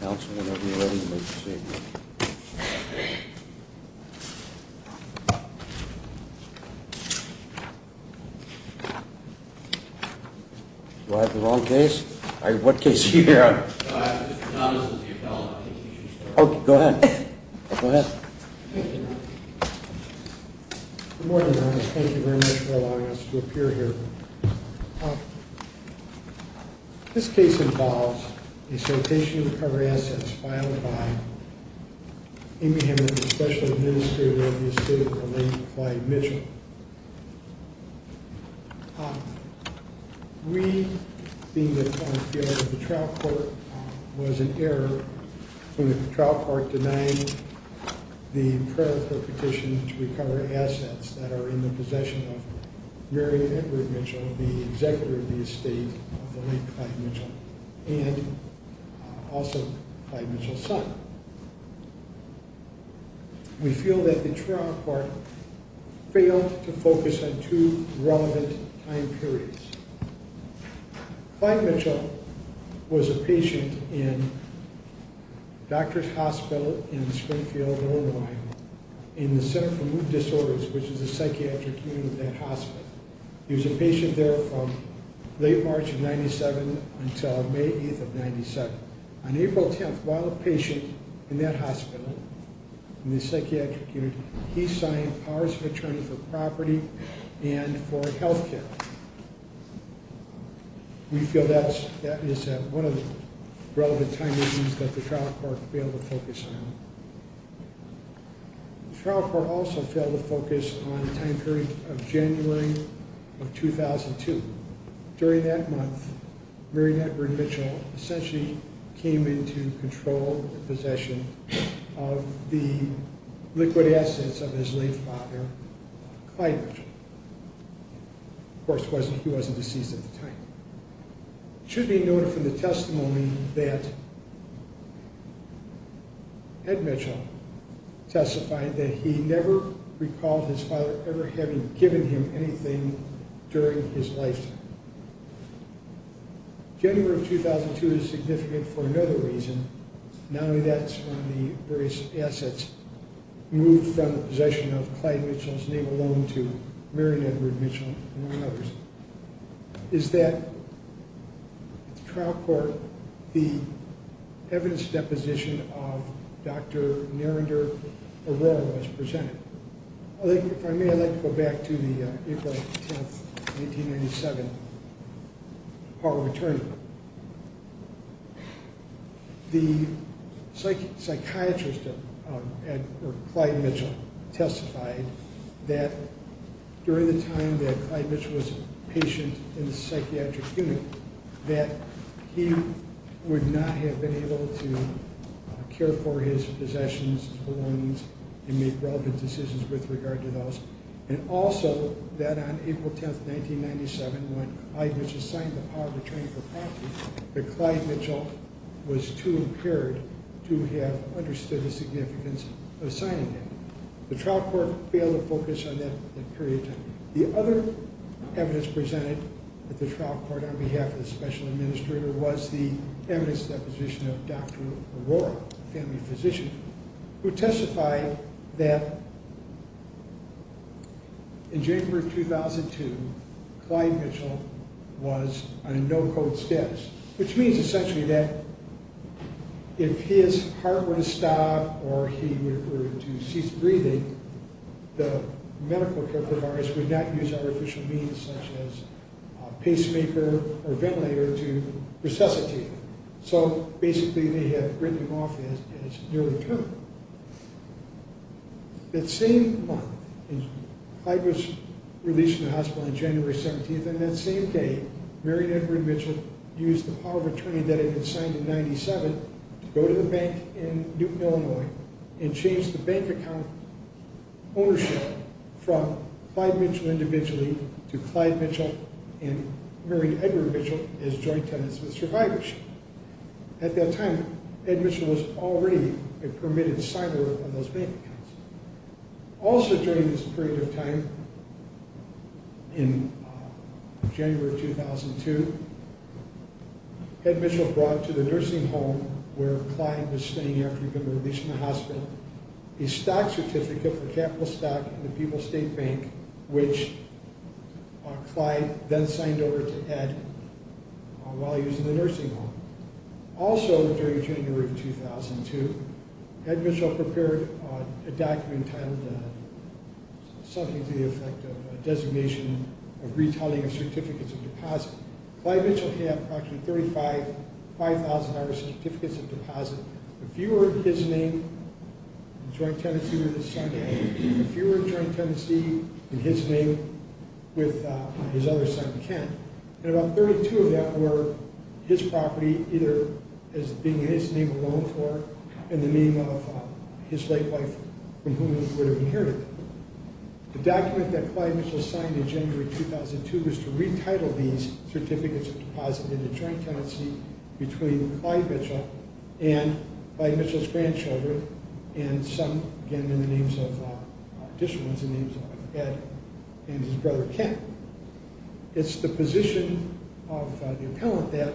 Council, whenever you're ready to make a statement. Do I have the wrong case? What case are you here on? No, this is the appellate. Oh, go ahead. Go ahead. Thank you. Good morning, Your Honor. Thank you very much for allowing us to appear here. This case involves a citation of covered assets filed by Amy Hammond, the Special Administrator of the Estate of Elaine Clay Mitchell. We feel that the trial court was in error when the trial court denied the prayer of her petition to recover assets that are in the possession of Mary Edward Mitchell, the Executive of the Estate of Elaine Clay Mitchell, and also Clay Mitchell's son. We feel that the trial court failed to focus on two relevant time periods. Clay Mitchell was a patient in Doctors Hospital in Springfield, Illinois, in the Center for Mood Disorders, which is the psychiatric unit of that hospital. He was a patient there from late March of 1997 until May 8th of 1997. On April 10th, while a patient in that hospital, in the psychiatric unit, he signed powers of attorney for property and for health care. We feel that is one of the relevant time periods that the trial court failed to focus on. The trial court also failed to focus on the time period of January of 2002. During that month, Mary Edward Mitchell essentially came into control of the possession of the liquid assets of his late father, Clay Mitchell. Of course, he wasn't deceased at the time. It should be noted from the testimony that Ed Mitchell testified that he never recalled his father ever having given him anything during his lifetime. January of 2002 is significant for another reason. Not only that, but the various assets moved from the possession of Clay Mitchell's name alone to Mary Edward Mitchell and others. The trial court, the evidence deposition of Dr. Narender Arora was presented. If I may, I'd like to go back to the April 10th, 1997 power of attorney. The psychiatrist Clyde Mitchell testified that during the time that Clyde Mitchell was a patient in the psychiatric unit, that he would not have been able to care for his possessions, his belongings, and make relevant decisions with regard to those. And also, that on April 10th, 1997, when Clyde Mitchell signed the power of attorney for property, that Clyde Mitchell was too impaired to have understood the significance of signing it. The trial court failed to focus on that period. The other evidence presented at the trial court on behalf of the special administrator was the evidence deposition of Dr. Arora, a family physician, who testified that in January of 2002, Clyde Mitchell was on a no-code status, which means essentially that if his heart would stop or he were to cease breathing, the medical care providers would not use artificial means such as a pacemaker or ventilator to resuscitate him. So basically, they had written him off as a near-returner. That same month, Clyde was released from the hospital on January 17th, and that same day, Marion Edward Mitchell used the power of attorney that had been signed in 1997 to go to the bank in Newton, Illinois, and change the bank account ownership from Clyde Mitchell individually to Clyde Mitchell and Marion Edward Mitchell as joint tenants with survivors. At that time, Ed Mitchell was already a permitted signer on those bank accounts. Also during this period of time, in January of 2002, Ed Mitchell brought to the nursing home where Clyde was staying after he had been released from the hospital, a stock certificate for capital stock in the People's State Bank, which Clyde then signed over to Ed while he was in the nursing home. Also during January of 2002, Ed Mitchell prepared a document titled something to the effect of a designation of retitling of certificates of deposit. Clyde Mitchell had approximately 35 5,000-dollar certificates of deposit. A few were his name, a joint tenancy with his son, and a few were joint tenancy in his name with his other son, Ken. And about 32 of that were his property, either as being in his name alone, or in the name of his late wife, from whom he would have inherited it. The document that Clyde Mitchell signed in January of 2002 was to retitle these certificates of deposit in a joint tenancy between Clyde Mitchell and Clyde Mitchell's grandchildren, and some, again, in the names of additional ones, in the names of Ed and his brother Ken. It's the position of the appellant that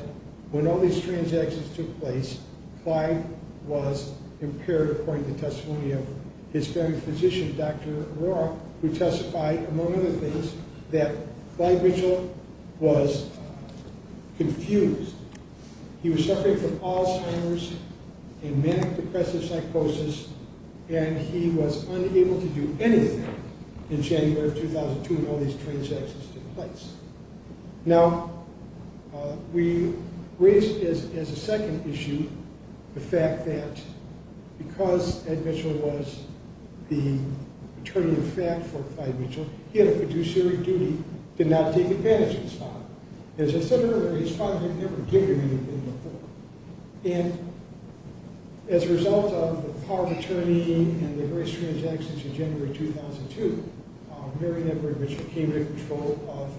when all these transactions took place, Clyde was impaired, according to the testimony of his family physician, Dr. O'Rourke, who testified, among other things, that Clyde Mitchell was confused. He was suffering from Alzheimer's and manic-depressive psychosis, and he was unable to do anything in January of 2002 when all these transactions took place. Now, we raise as a second issue the fact that because Ed Mitchell was the attorney-in-fact for Clyde Mitchell, he had a fiduciary duty to not take advantage of his father. As I said earlier, his father had never given him anything before, and as a result of the power of attorney and the various transactions in January of 2002, Mary Edward Mitchell came into control of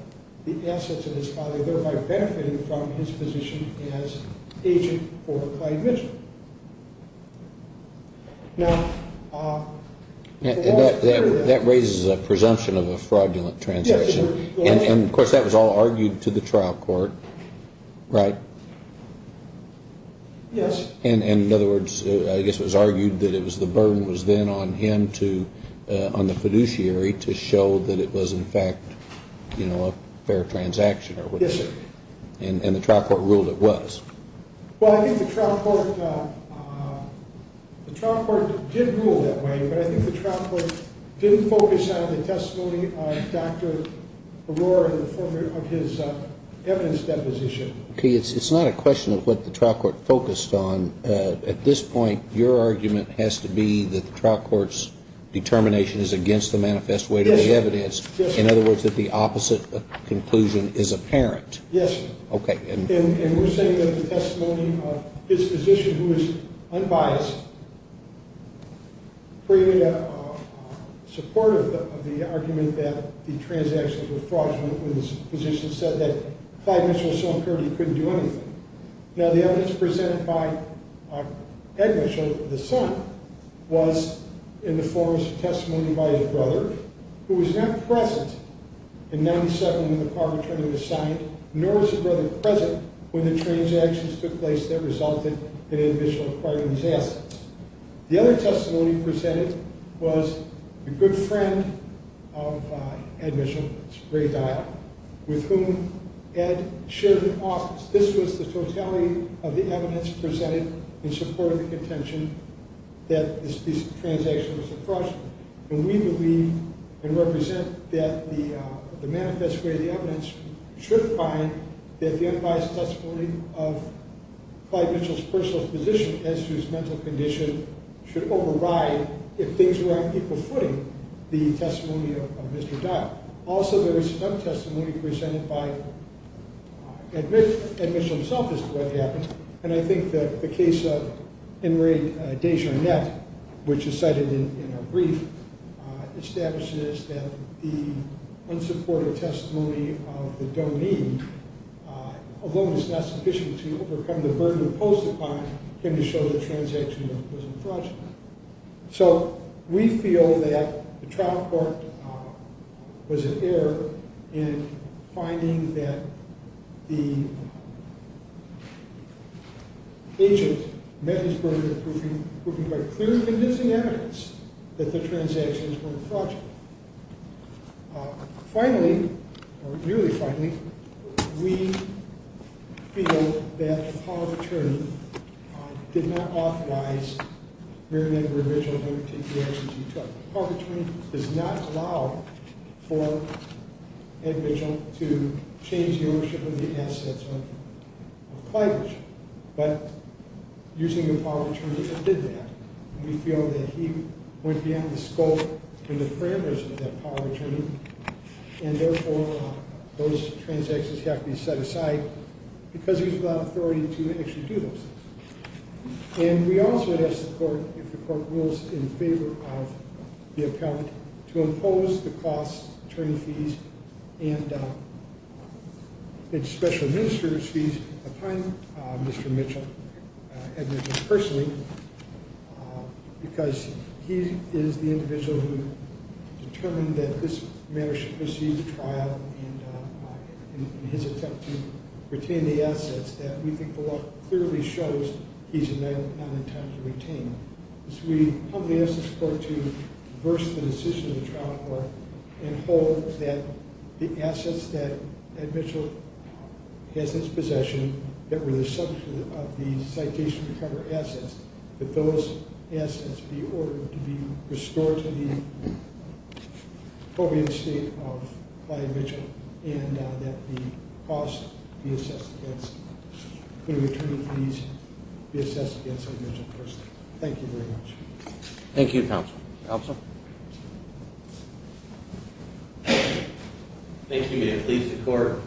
the assets of his father, thereby benefiting from his position as agent for Clyde Mitchell. That raises a presumption of a fraudulent transaction, and, of course, that was all argued to the trial court, right? Yes. And, in other words, I guess it was argued that the burden was then on him to, on the fiduciary, to show that it was, in fact, a fair transaction. Yes, sir. And the trial court ruled it was. Well, I think the trial court did rule that way, but I think the trial court didn't focus on the testimony of Dr. O'Rourke in the form of his evidence deposition. Okay, it's not a question of what the trial court focused on. At this point, your argument has to be that the trial court's determination is against the manifest way to the evidence. Yes, sir. In other words, that the opposite conclusion is apparent. Yes, sir. Okay. And we're saying that the testimony of his position, who is unbiased, created support of the argument that the transactions were fraudulent, when his position said that Clyde Mitchell so and so couldn't do anything. Now, the evidence presented by Ed Mitchell, the son, was in the form of testimony by his brother, who was not present in 1997 when the car was returned to the site, nor was his brother present when the transactions took place that resulted in Ed Mitchell acquiring these assets. The other testimony presented was the good friend of Ed Mitchell, Ray Dial, with whom Ed shared an office. This was the totality of the evidence presented in support of the contention that this transaction was fraudulent. And we believe and represent that the manifest way of the evidence should find that the unbiased testimony of Clyde Mitchell's personal position, as to his mental condition, should override, if things were on equal footing, the testimony of Mr. Dial. Also, there is some testimony presented by Ed Mitchell himself as to what happened. And I think that the case of Enrique Dejarnet, which is cited in our brief, establishes that the unsupported testimony of the domain, although it's not sufficient to overcome the burden imposed upon him to show that the transaction was fraudulent. So, we feel that the trial court was in error in finding that the agent met his burden of proofing by clear and convincing evidence that the transactions were fraudulent. Finally, or nearly finally, we feel that the power of attorney did not authorize Mary Ann Marie Mitchell to undertake the actions she took. The power of attorney does not allow for Ed Mitchell to change the ownership of the assets of Clyde Mitchell. But using the power of attorney, it did that. We feel that he went beyond the scope and the parameters of that power of attorney. And therefore, those transactions have to be set aside, because he was without authority to actually do those things. And we also would ask the court, if the court rules in favor of the appellate, to impose the costs, attorney fees, and special minister's fees upon Mr. Mitchell, Ed Mitchell personally. Because he is the individual who determined that this matter should proceed to trial, and in his attempt to retain the assets that we think the law clearly shows he's not intending to retain. So we humbly ask this court to reverse the decision of the trial court and hold that the assets that Ed Mitchell has in his possession, that were the subject of the citation to cover assets, that those assets be ordered to be restored to the appropriate state of Clyde Mitchell, and that the costs be assessed against the attorney fees be assessed against Ed Mitchell personally. Thank you very much. Thank you, counsel. Counsel? Thank you, Mayor. Please, the court.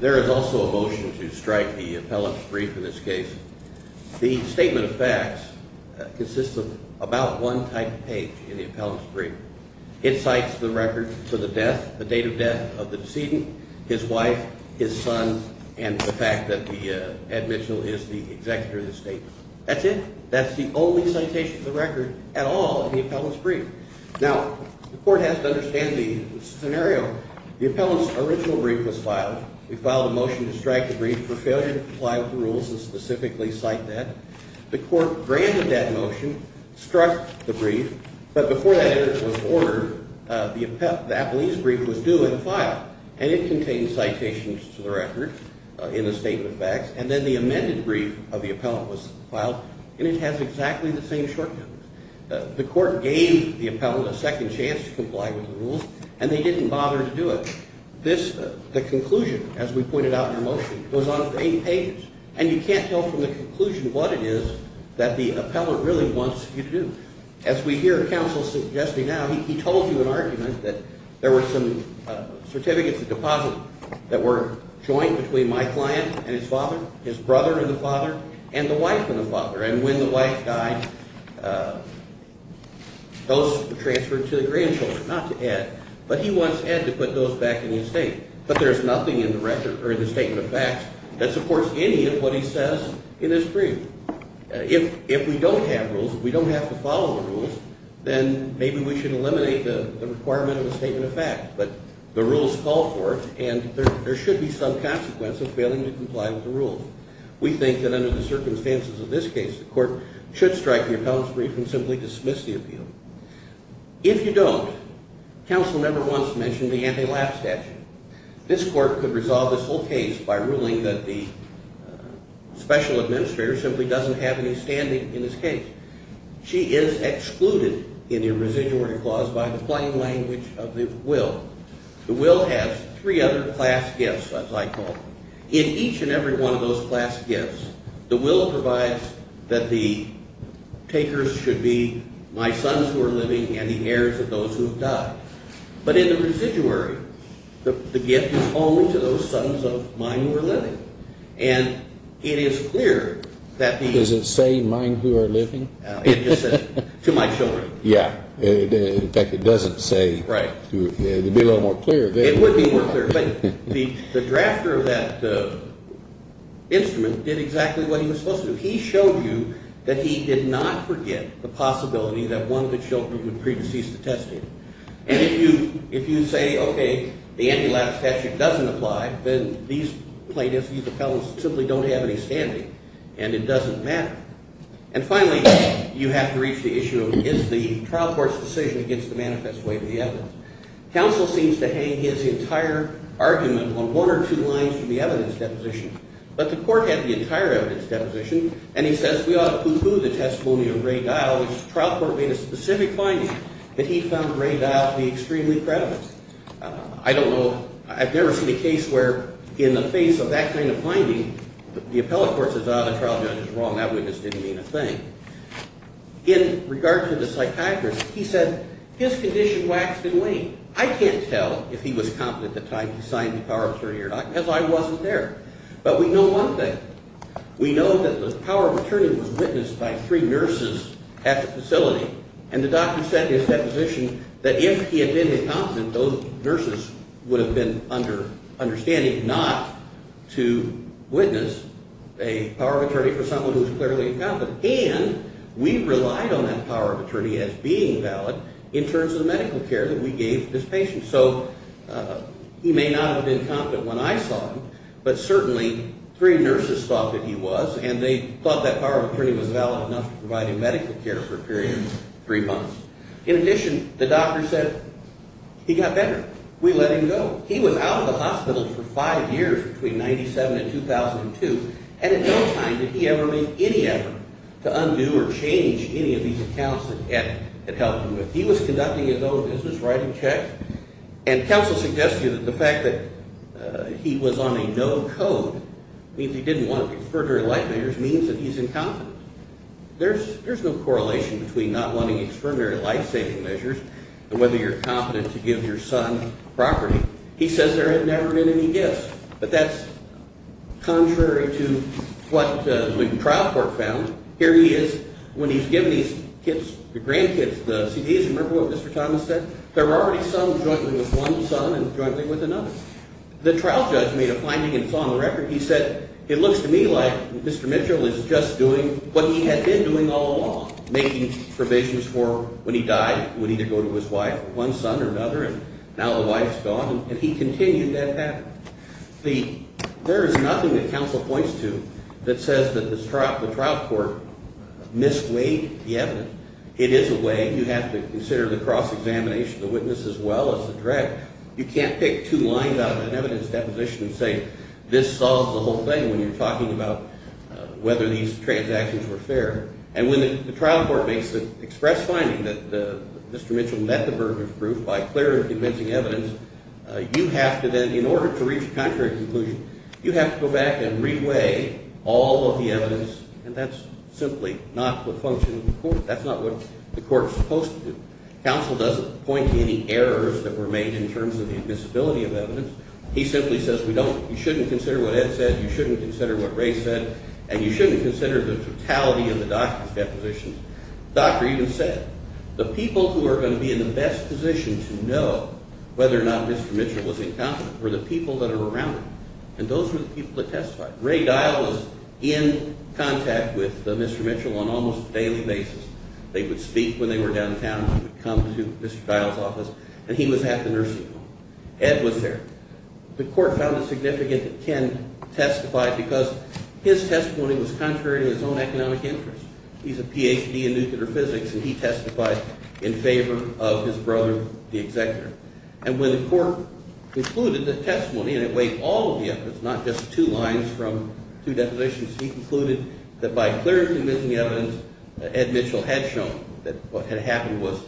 There is also a motion to strike the appellate's brief in this case. The statement of facts consists of about one typed page in the appellate's brief. It cites the record for the death, the date of death of the decedent, his wife, his son, and the fact that Ed Mitchell is the executor of the statement. That's it. Now, the court has to understand the scenario. The appellant's original brief was filed. We filed a motion to strike the brief for failure to comply with the rules and specifically cite that. The court granted that motion, struck the brief, but before that evidence was ordered, the appellate's brief was due and filed, and it contained citations to the record in the statement of facts, and then the amended brief of the appellant was filed, and it has exactly the same shortcomings. The court gave the appellant a second chance to comply with the rules, and they didn't bother to do it. The conclusion, as we pointed out in our motion, was on eight pages, and you can't tell from the conclusion what it is that the appellant really wants you to do. As we hear counsel suggesting now, he told you an argument that there were some certificates of deposit that were joint between my client and his father, his brother and the father, and the wife and the father, and when the wife died, those were transferred to the grandchildren, not to Ed, but he wants Ed to put those back in the estate, but there's nothing in the record or in the statement of facts that supports any of what he says in this brief. If we don't have rules, if we don't have to follow the rules, then maybe we should eliminate the requirement of a statement of facts, but the rules call for it, and there should be some consequence of failing to comply with the rules. We think that under the circumstances of this case, the court should strike the appellant's brief and simply dismiss the appeal. If you don't, counsel never wants to mention the anti-lab statute. This court could resolve this whole case by ruling that the special administrator simply doesn't have any standing in this case. She is excluded in the Irresiduality Clause by the plain language of the will. The will has three other class gifts, as I call them. In each and every one of those class gifts, the will provides that the takers should be my sons who are living and the heirs of those who have died. But in the residuary, the gift is only to those sons of mine who are living. And it is clear that the – Does it say mine who are living? It just says to my children. Yeah. In fact, it doesn't say – Right. To be a little more clear. It would be more clear. But the drafter of that instrument did exactly what he was supposed to do. He showed you that he did not forget the possibility that one of his children would pre-decease to testify. And if you say, okay, the anti-lab statute doesn't apply, then these plaintiffs, these appellants, simply don't have any standing, and it doesn't matter. And finally, you have to reach the issue of is the trial court's decision against the manifest way to the evidence. Counsel seems to hang his entire argument on one or two lines from the evidence deposition. But the court had the entire evidence deposition, and he says we ought to poo-poo the testimony of Ray Dial, which the trial court made a specific finding that he found Ray Dial to be extremely credible. I don't know – I've never seen a case where in the face of that kind of finding, the appellate court says, ah, the trial judge is wrong. That witness didn't mean a thing. In regard to the psychiatrist, he said his condition waxed and waned. I can't tell if he was competent at the time he signed the power of attorney or not because I wasn't there. But we know one thing. We know that the power of attorney was witnessed by three nurses at the facility, and the doctor said in his deposition that if he had been incompetent, those nurses would have been under understanding not to witness a power of attorney for someone who was clearly incompetent. And we relied on that power of attorney as being valid in terms of the medical care that we gave this patient. So he may not have been competent when I saw him, but certainly three nurses thought that he was, and they thought that power of attorney was valid enough to provide him medical care for a period of three months. In addition, the doctor said he got better. We let him go. He was out of the hospital for five years between 1997 and 2002, and in no time did he ever make any effort to undo or change any of these accounts that Ed had helped him with. He was conducting his own business, writing checks, and counsel suggests to you that the fact that he was on a no code means he didn't want to take further life measures, means that he's incompetent. There's no correlation between not wanting exterminary life-saving measures and whether you're competent to give your son property. He says there had never been any gifts. But that's contrary to what the trial court found. Here he is when he's given these gifts, the grand gifts, the CDs. Remember what Mr. Thomas said? There were already some jointly with one son and jointly with another. The trial judge made a finding and saw on the record. He said, it looks to me like Mr. Mitchell is just doing what he had been doing all along, making provisions for when he died he would either go to his wife or one son or another, and now the wife's gone, and he continued that path. There is nothing that counsel points to that says that the trial court misweighed the evidence. It is a way. You have to consider the cross-examination of the witness as well as the drug. You can't pick two lines out of an evidence deposition and say this solves the whole thing when you're talking about whether these transactions were fair. And when the trial court makes the express finding that Mr. Mitchell met the burden of proof by clear and convincing evidence, you have to then, in order to reach a contrary conclusion, you have to go back and reweigh all of the evidence, and that's simply not the function of the court. That's not what the court is supposed to do. Counsel doesn't point to any errors that were made in terms of the admissibility of evidence. He simply says we don't, you shouldn't consider what Ed said, you shouldn't consider what Ray said, and you shouldn't consider the totality of the doctor's depositions. The doctor even said the people who are going to be in the best position to know whether or not Mr. Mitchell was incompetent were the people that are around him, and those were the people that testified. Ray Dial was in contact with Mr. Mitchell on almost a daily basis. They would speak when they were downtown, they would come to Mr. Dial's office, and he was at the nursing home. Ed was there. The court found it significant that Ken testified because his testimony was contrary to his own economic interests. He's a Ph.D. in nuclear physics, and he testified in favor of his brother, the executor. And when the court concluded that testimony, and it weighed all of the evidence, not just two lines from two depositions, he concluded that by clear and convincing evidence, Ed Mitchell had shown that what had happened was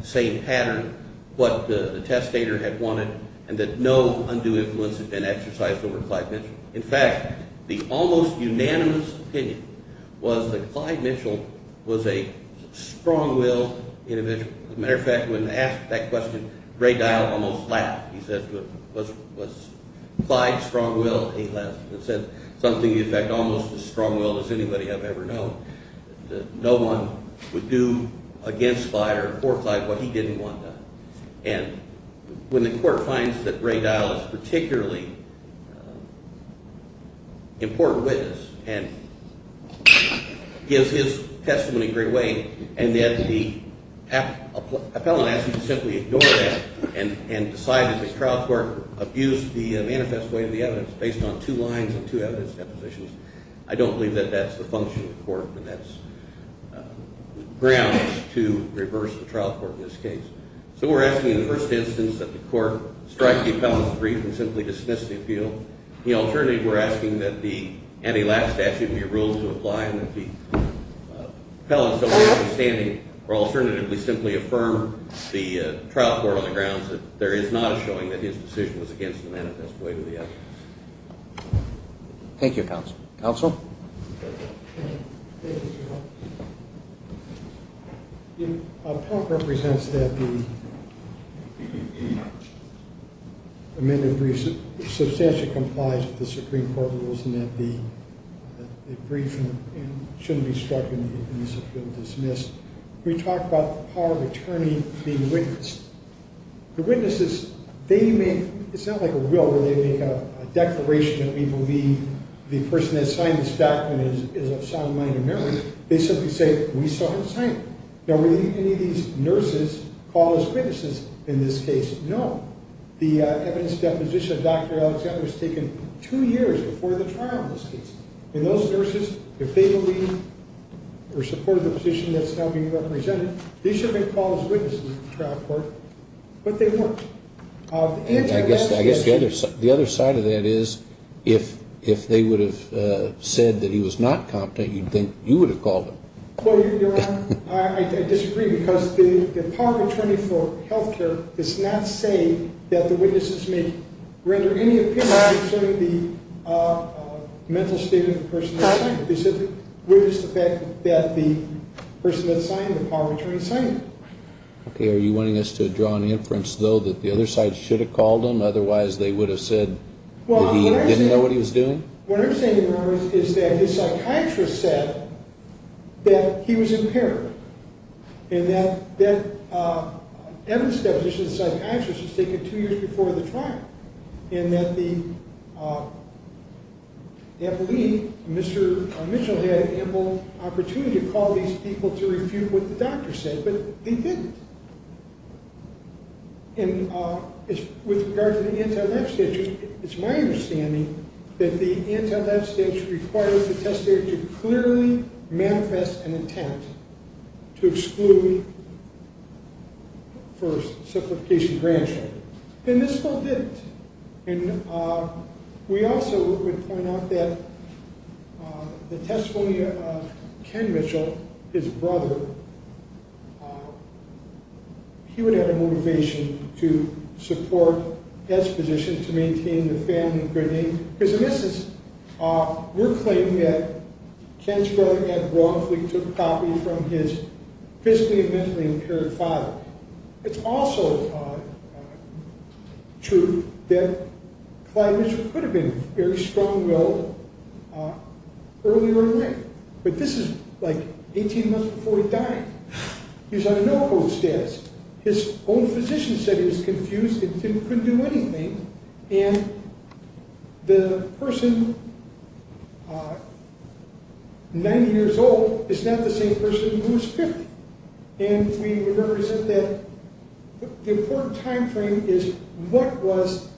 the same pattern, what the testator had wanted, and that no undue influence had been exercised over Clyde Mitchell. In fact, the almost unanimous opinion was that Clyde Mitchell was a strong-willed individual. As a matter of fact, when asked that question, Ray Dial almost laughed. He said, was Clyde strong-willed? He laughed and said something, in fact, almost as strong-willed as anybody I've ever known, that no one would do against Clyde or for Clyde what he didn't want done. And when the court finds that Ray Dial is a particularly important witness and gives his testimony in a great way and then the appellant asks him to simply ignore that and decide that the trial court abused the manifest way of the evidence based on two lines and two evidence depositions, I don't believe that that's the function of the court and that's grounds to reverse the trial court in this case. So we're asking in the first instance that the court strike the appellant's agreement and simply dismiss the appeal. The alternative, we're asking that the anti-lapse statute be ruled to apply and that the appellant's only understanding or alternatively simply affirm the trial court on the grounds that there is not a showing that his decision was against the manifest way of the evidence. Thank you, counsel. Counsel? Thank you. The appellant represents that the amended brief substantially complies with the Supreme Court rules and that the brief shouldn't be struck and the appeal dismissed. We talked about the power of attorney being witnessed. The witnesses, they may, it's not like a will where they make a declaration that we believe the person that signed this document is of sound mind and merit. They simply say, we saw him sign it. Now, were any of these nurses called as witnesses in this case? No. The evidence deposition of Dr. Alexander was taken two years before the trial in this case. And those nurses, if they believe or support the position that's now being represented, they should have been called as witnesses in the trial court, but they weren't. I guess the other side of that is if they would have said that he was not competent, you'd think you would have called him. Well, Your Honor, I disagree because the power of attorney for health care does not say that the witnesses may render any opinion concerning the mental state of the person that signed it. They said, where is the fact that the person that signed the power of attorney signed it? Okay, are you wanting us to draw an inference, though, that the other side should have called him? Otherwise, they would have said that he didn't know what he was doing? What I'm saying, Your Honor, is that the psychiatrist said that he was impaired and that evidence deposition of the psychiatrist was taken two years before the trial and that the employee, Mr. Mitchell, had ample opportunity to call these people to refute what the doctor said. But they didn't. And with regard to the anti-lab statute, it's my understanding that the anti-lab statute requires the testator to clearly manifest an intent to exclude for simplification of grand jury. And this court didn't. And we also would point out that the testimony of Ken Mitchell, his brother, he would have a motivation to support his position to maintain the family good name. Because in essence, we're claiming that Ken's brother, Ed Braunfleet, took a copy from his physically and mentally impaired father. It's also true that Clyde Mitchell could have been very strong-willed earlier in life. But this is, like, 18 months before he died. He was on a no-hold status. His own physician said he was confused and couldn't do anything. And the person, 90 years old, is not the same person who was 50. And we represent that the important time frame is what was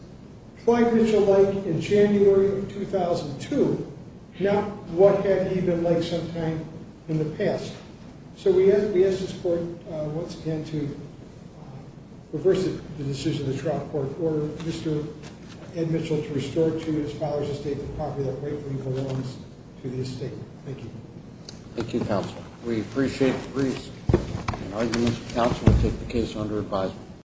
Clyde Mitchell like in January of 2002, not what had he been like sometime in the past. So we ask this court once again to reverse the decision of the trial court, order Mr. Ed Mitchell to restore to his father's estate the property that rightfully belongs to the estate. Thank you. Thank you, counsel. We appreciate the briefs. And I urge Mr. Counsel to take the case under advisement.